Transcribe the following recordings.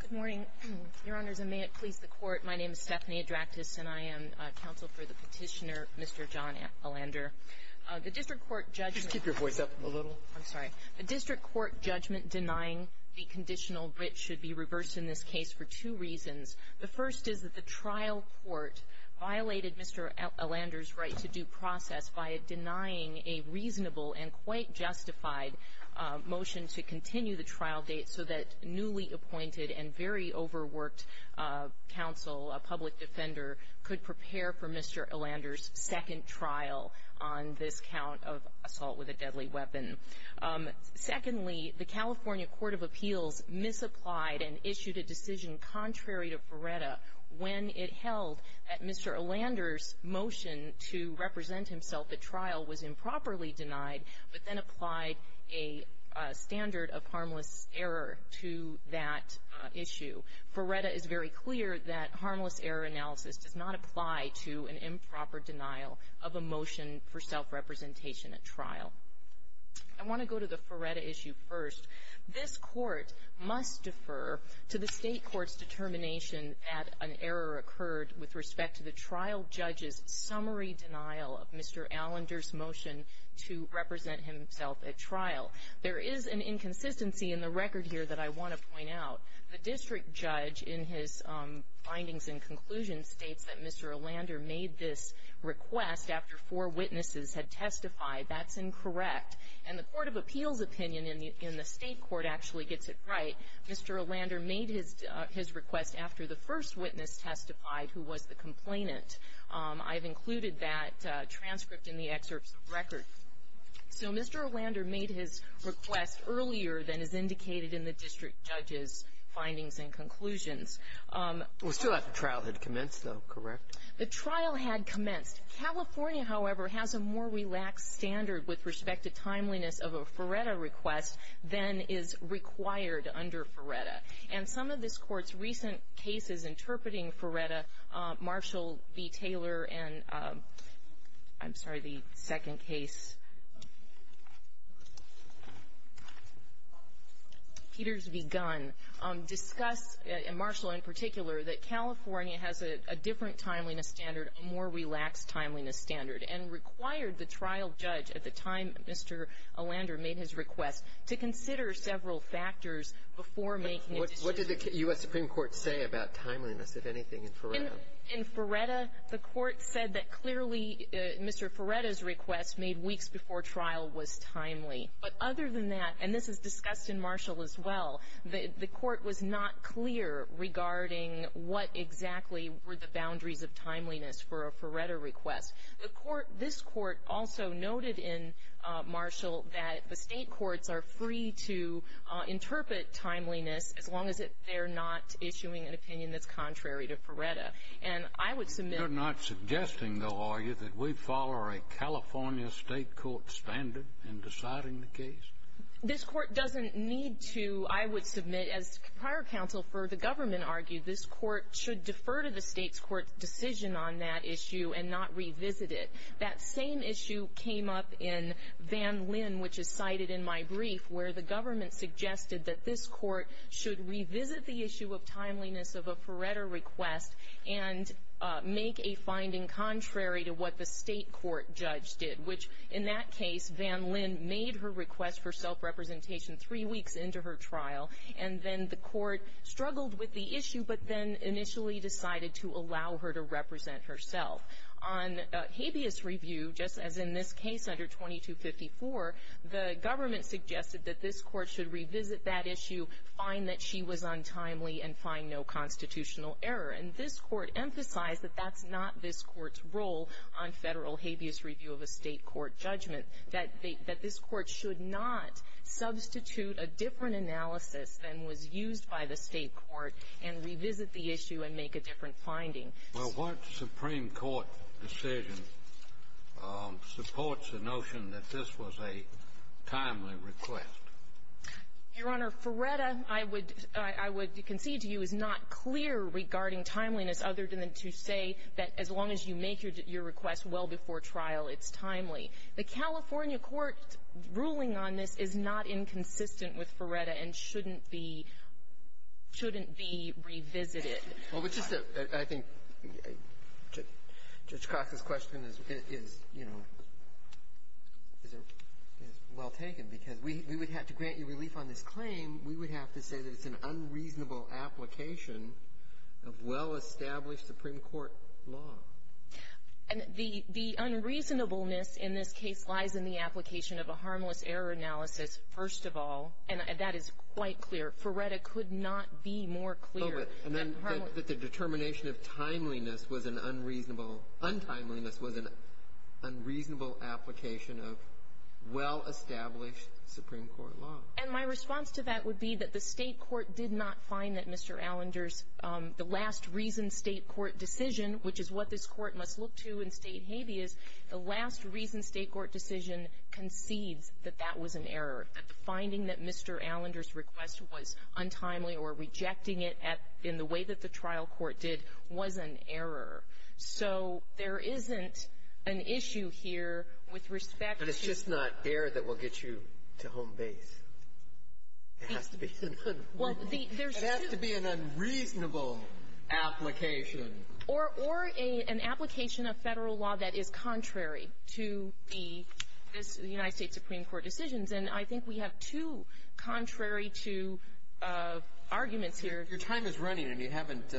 Good morning, Your Honors, and may it please the Court, my name is Stephanie Adraktis and I am counsel for the petitioner, Mr. John Allander. The District Court judgment denying the conditional writ should be reversed in this case for two reasons. The first is that the trial court violated Mr. Allander's right to due process by denying a reasonable and quite justified motion to continue the trial date so that newly appointed and very overworked counsel, a public defender, could prepare for Mr. Allander's second trial on this count of assault with a deadly weapon. Secondly, the California Court of Appeals misapplied and issued a decision contrary to Vereda when it held that Mr. Allander's motion to represent himself at trial was improperly denied but then applied a standard of harmless error to that issue. Vereda is very clear that harmless error analysis does not apply to an improper denial of a motion for self-representation at trial. I want to go to the Vereda issue first. This Court must defer to the State court's determination that an error occurred with respect to the trial judge's summary denial of Mr. Allander's motion to represent himself at trial. There is an inconsistency in the record here that I want to point out. The district judge, in his findings and conclusions, states that Mr. Allander made this request after four witnesses had testified. That's incorrect. And the Court of Appeals opinion in the State court actually gets it right. Mr. Allander made his request after the first witness testified, who was the complainant. I've included that transcript in the excerpts of the record. So Mr. Allander made his request earlier than is indicated in the district judge's findings and conclusions. Well, it's true that the trial had commenced, though, correct? The trial had commenced. California, however, has a more relaxed standard with respect to timeliness of a Vereda request than is required under Vereda. And some of this Court's recent cases interpreting Vereda, Marshall v. Taylor and, I'm sorry, the second case, Peters v. Gunn, discuss, Marshall in particular, that California has a different timeliness standard, a more relaxed timeliness standard, and required the trial judge at the time Mr. Allander made his request to consider several factors before making a decision. What did the U.S. Supreme Court say about timeliness, if anything, in Vereda? In Vereda, the Court said that clearly Mr. Vereda's request made weeks before trial was timely. But other than that, and this is discussed in Marshall as well, the Court was not clear regarding what exactly were the boundaries of timeliness for a Vereda request. The Court, this Court, also noted in Marshall that the State courts are free to interpret timeliness as long as they're not issuing an opinion that's contrary to Vereda. And I would submit — You're not suggesting, though, are you, that we follow a California State court standard in deciding the case? This Court doesn't need to, I would submit, as prior counsel for the government argued, this Court should defer to the State's court's decision on that issue and not revisit it. That same issue came up in Van Linn, which is cited in my brief, where the government suggested that this Court should revisit the issue of timeliness of a Vereda request and make a finding contrary to what the State court judge did, which, in that case, Van Linn made her request for self-representation three weeks into her trial, and then the Court struggled with the issue but then initially decided to allow her to represent herself. On habeas review, just as in this case under 2254, the government suggested that this Court should revisit that issue, find that she was untimely, and find no constitutional error. And this Court emphasized that that's not this Court's role on Federal habeas review of a State court judgment, that this Court should not substitute a different analysis than was used by the State court and revisit the issue and make a different finding. Well, what Supreme Court decision supports the notion that this was a timely request? Your Honor, Vereda, I would concede to you, is not clear regarding timeliness other than to say that as long as you make your request well before trial, it's timely. The California court ruling on this is not inconsistent with Vereda and shouldn't be – shouldn't be revisited. Well, it's just that I think Judge Cox's question is, you know, is well taken, because we would have to grant you relief on this claim, we would have to say that this is an unreasonable application of well-established Supreme Court law. And the – the unreasonableness in this case lies in the application of a harmless error analysis, first of all, and that is quite clear. Vereda could not be more clear. Oh, but the determination of timeliness was an unreasonable – untimeliness was an unreasonable application of well-established Supreme Court law. And my response to that would be that the State court did not find that Mr. Allender's – the last reason State court decision, which is what this court must look to in State habeas, the last reason State court decision concedes that that was an error, that the finding that Mr. Allender's request was untimely or rejecting it at – in the way that the trial court did was an error. So there isn't an issue here with respect to – It has to be an error that will get you to home base. It has to be an unreasonable. It has to be an unreasonable application. Or – or an application of Federal law that is contrary to the – this – the United States Supreme Court decisions. And I think we have two contrary to arguments here. Your time is running, and you haven't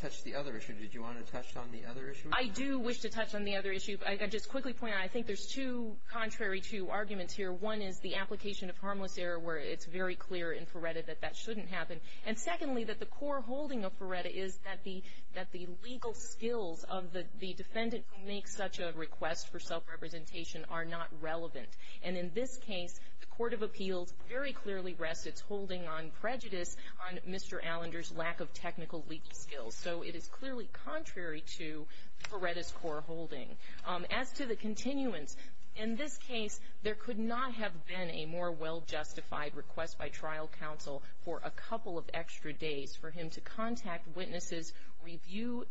touched the other issue. Did you want to touch on the other issue? I do wish to touch on the other issue. I just quickly point out, I think there's two contrary to arguments here. One is the application of harmless error where it's very clear in Ferretta that that shouldn't happen. And secondly, that the core holding of Ferretta is that the – that the legal skills of the defendant who makes such a request for self-representation are not relevant. And in this case, the court of appeals very clearly rests its holding on prejudice on Mr. Allender's lack of technical legal skills. So it is clearly contrary to Ferretta's core holding. As to the continuance, in this case, there could not have been a more well-justified request by trial counsel for a couple of extra days for him to contact witnesses, review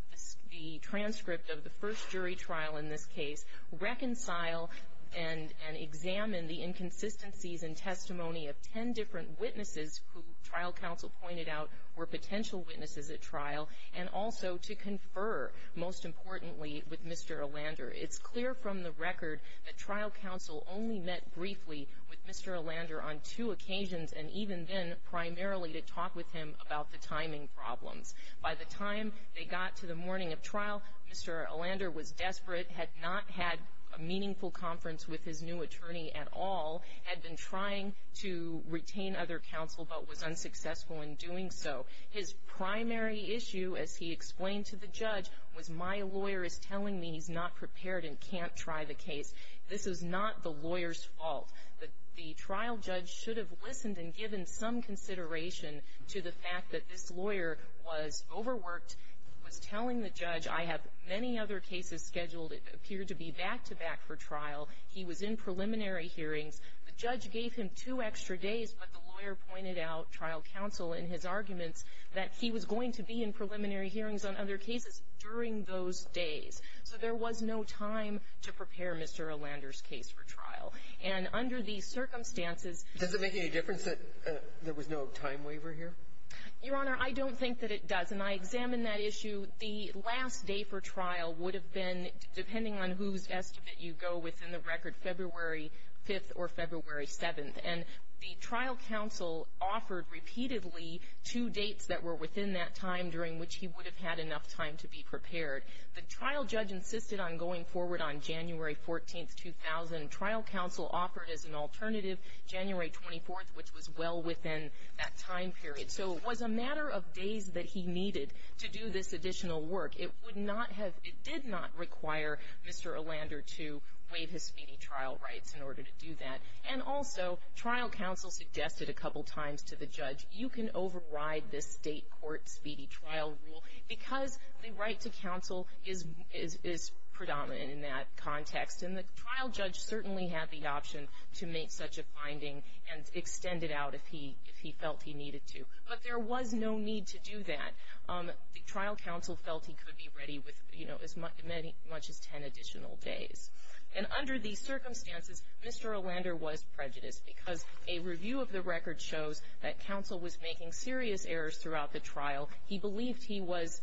the transcript of the first jury trial in this case, reconcile and – and examine the inconsistencies in testimony of ten different witnesses who trial counsel pointed out were potential witnesses at trial, and also to confer, most importantly, with Mr. Allender. It's clear from the record that trial counsel only met briefly with Mr. Allender on two occasions, and even then primarily to talk with him about the timing problems. By the time they got to the morning of trial, Mr. Allender was desperate, had not had a meaningful conference with his new attorney at all, had been trying to retain other counsel but was unsuccessful in doing so. His primary issue, as he explained to the judge, was, my lawyer is telling me he's not prepared and can't try the case. This is not the lawyer's fault. The trial judge should have listened and given some consideration to the fact that this lawyer was overworked, was telling the judge, I have many other cases scheduled that appear to be back-to-back for trial. He was in preliminary hearings. The judge gave him two extra days, but the lawyer pointed out trial counsel in his arguments that he was going to be in preliminary hearings on other cases during those days. So there was no time to prepare Mr. Allender's case for trial. And under these circumstances — Does it make any difference that there was no time waiver here? Your Honor, I don't think that it does. And I examined that issue. The last day for trial would have been, depending on whose estimate you go within the record, February 5th or February 7th. And the trial counsel offered repeatedly two dates that were within that time during which he would have had enough time to be prepared. The trial judge insisted on going forward on January 14th, 2000. Trial counsel offered as an alternative January 24th, which was well within that time period. So it was a matter of days that he needed to do this additional work. It would not have — it did not require Mr. Allender to waive his speedy trial rights in order to do that. And also, trial counsel suggested a couple times to the judge, you can override this state court speedy trial rule because the right to counsel is predominant in that context. And the trial judge certainly had the option to make such a finding and extend it out if he felt he needed to. But there was no need to do that. The trial counsel felt he could be ready with as much as 10 additional days. And under these circumstances, Mr. Allender was prejudiced because a review of the record shows that counsel was making serious errors throughout the trial. He believed he was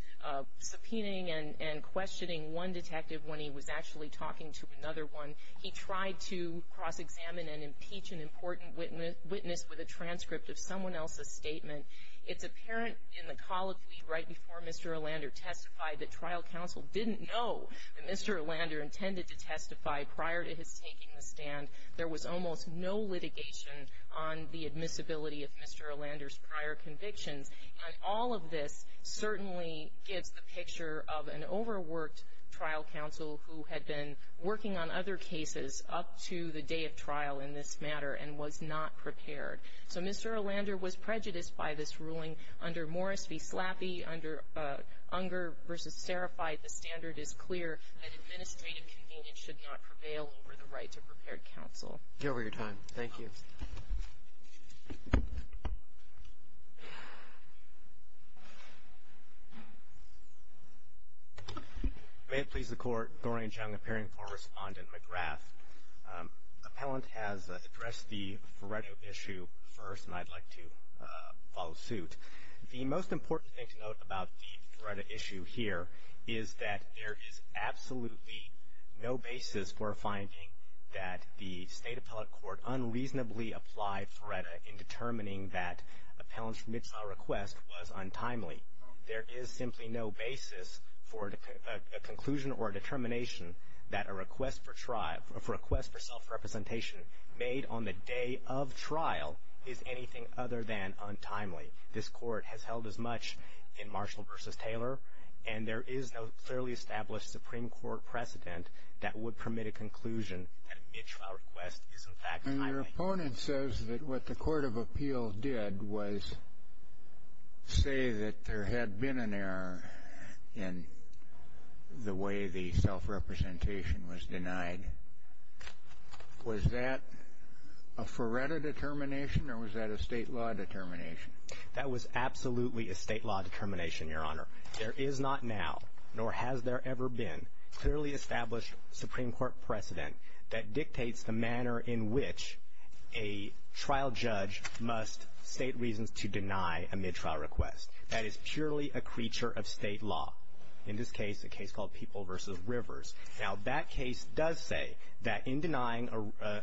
subpoenaing and questioning one detective when he was actually talking to another one. He tried to cross-examine and impeach an important witness with a transcript of someone else's statement. It's apparent in the colloquy right before Mr. Allender testified that trial counsel didn't know that Mr. Allender intended to testify prior to his taking the stand. There was almost no litigation on the admissibility of Mr. Allender's prior convictions. And all of this certainly gives the picture of an overworked trial counsel who had been working on other cases up to the day of trial in this matter and was not prepared. So Mr. Allender was prejudiced by this ruling under Morris v. McGrath. He was not prepared to testify. The standard is clear that administrative convenience should not prevail over the right to prepared counsel. Thank you. May it please the Court. Doreen Jung, appearing for Respondent McGrath. Appellant has addressed the Feretto issue first, and I'd like to follow suit. The most important thing to note about the Feretto issue here is that there is absolutely no basis for finding that the State Appellate Court unreasonably applied Feretto in determining that Appellant's remittal request was untimely. There is simply no basis for a conclusion or a determination that a request for self-representation made on the day of trial is anything other than untimely. This Court has held as much in Marshall v. Taylor, and there is no clearly established Supreme Court precedent that would permit a conclusion that a remittal request is in fact timely. And your opponent says that what the Court of Appeal did was say that there had been an error in the way the self-representation was denied. Was that a Feretto determination, or was that a State law determination? That was absolutely a State law determination, Your Honor. There is not now, nor has there ever been, clearly established Supreme Court precedent that dictates the manner in which a trial judge must state reasons to deny a mid-trial request. That is purely a creature of State law. In this case, a case called People v. Rivers. Now, that case does say that in denying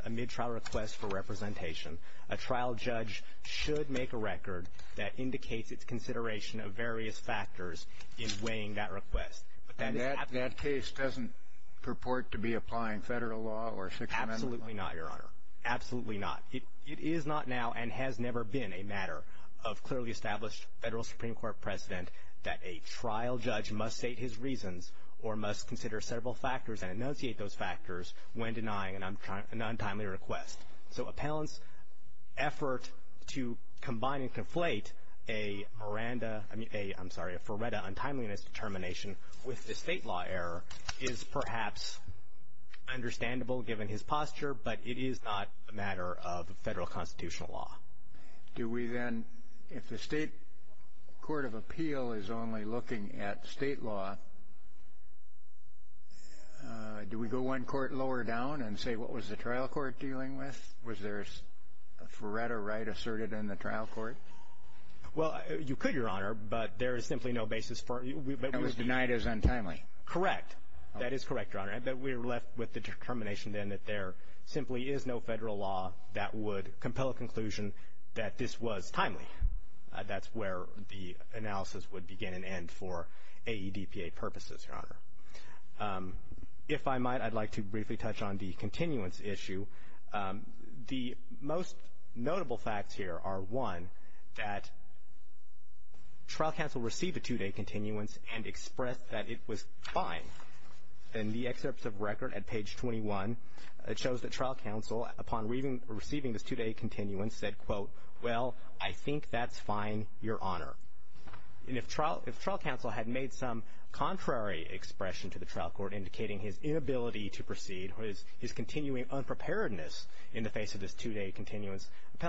a mid-trial request for representation, a trial judge should make a record that indicates its consideration of various factors in weighing that request. And that case doesn't purport to be applying Federal law or Sixth Amendment law? Absolutely not, Your Honor. Absolutely not. It is not now and has never been a matter of clearly established Federal Supreme Court precedent that a trial judge must state his reasons or must consider several factors and enunciate those factors when denying an untimely request. So appellant's effort to combine and conflate a Feretto untimeliness determination with a State law error is perhaps understandable given his posture, but it is not a matter of Federal constitutional law. Do we then, if the State court of appeal is only looking at State law, do we go one court lower down and say, what was the trial court dealing with? Was there a Feretto right asserted in the trial court? Well, you could, Your Honor, but there is simply no basis for it. It was denied as untimely. Correct. That is correct, Your Honor. But we're left with the determination then that there simply is no Federal law that would compel a conclusion that this was timely. That's where the analysis would begin and end for AEDPA purposes, Your Honor. If I might, I'd like to briefly touch on the continuance issue. The most notable facts here are, one, that trial counsel received a two-day continuance and expressed that it was fine. In the excerpts of record at page 21, it shows that trial counsel, upon receiving this two-day continuance, said, quote, well, I think that's fine, Your Honor. And if trial counsel had made some contrary expression to the trial court, indicating his inability to proceed or his continuing unpreparedness in the face of this two-day continuance, the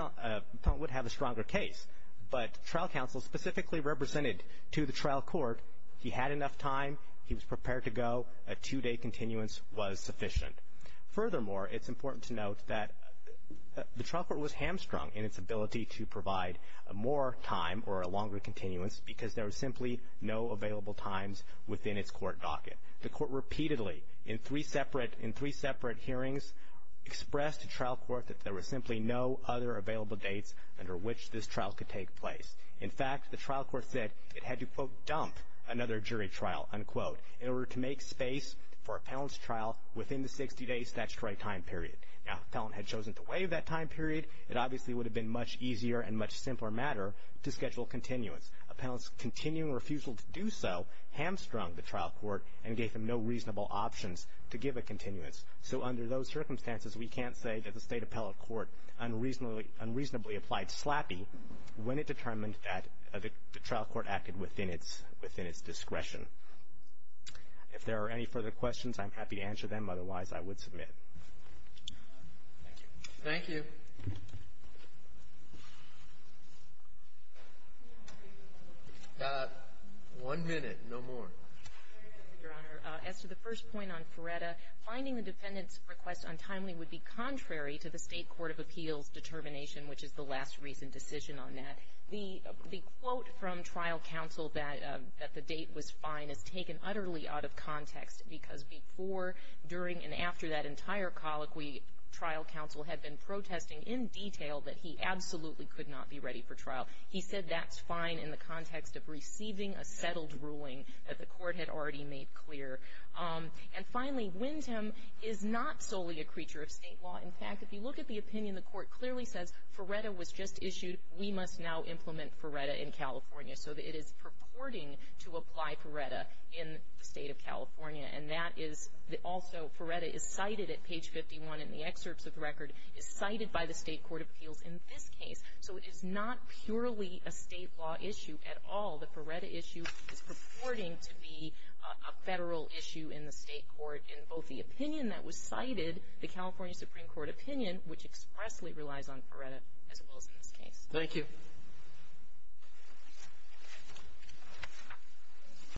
appellant would have a stronger case. But trial counsel specifically represented to the trial court he had enough time, he was prepared to go, a two-day continuance was sufficient. Furthermore, it's important to note that the trial court was hamstrung in its ability to provide more time or a longer continuance because there was simply no available times within its court docket. The court repeatedly, in three separate hearings, expressed to trial court that there were simply no other available dates under which this trial could take place. In fact, the trial court said it had to, quote, dump another jury trial, unquote, in order to make space for appellant's trial within the 60-day statutory time period. Now, if appellant had chosen to waive that time period, it obviously would have been a much easier and much simpler matter to schedule continuance. Appellant's continuing refusal to do so hamstrung the trial court and gave them no reasonable options to give a continuance. So under those circumstances, we can't say that the state appellate court unreasonably applied SLAPI when it determined that the trial court acted within its discretion. If there are any further questions, I'm happy to answer them. Otherwise, I would submit. Thank you. One minute, no more. Your Honor, as to the first point on Feretta, finding the defendant's request untimely would be contrary to the State Court of Appeals determination, which is the last recent decision on that. The quote from trial counsel that the date was fine is taken utterly out of context because before, during, and after that entire colloquy, trial counsel had been protesting in detail that he absolutely could not be ready for trial. He said that's fine in the context of receiving a settled ruling that the court had already made clear. And finally, Wyndham is not solely a creature of state law. In fact, if you look at the opinion, the court clearly says Feretta was just issued. We must now implement Feretta in California. So it is purporting to apply Feretta in the state of California. And that is also, Feretta is cited at page 51 in the excerpts of the record, is cited by the State Court of Appeals in this case. So it is not purely a state law issue at all. The Feretta issue is purporting to be a federal issue in the state court in both the opinion that was cited, the California Supreme Court opinion, which expressly relies on Feretta, as well as in this case. Thank you.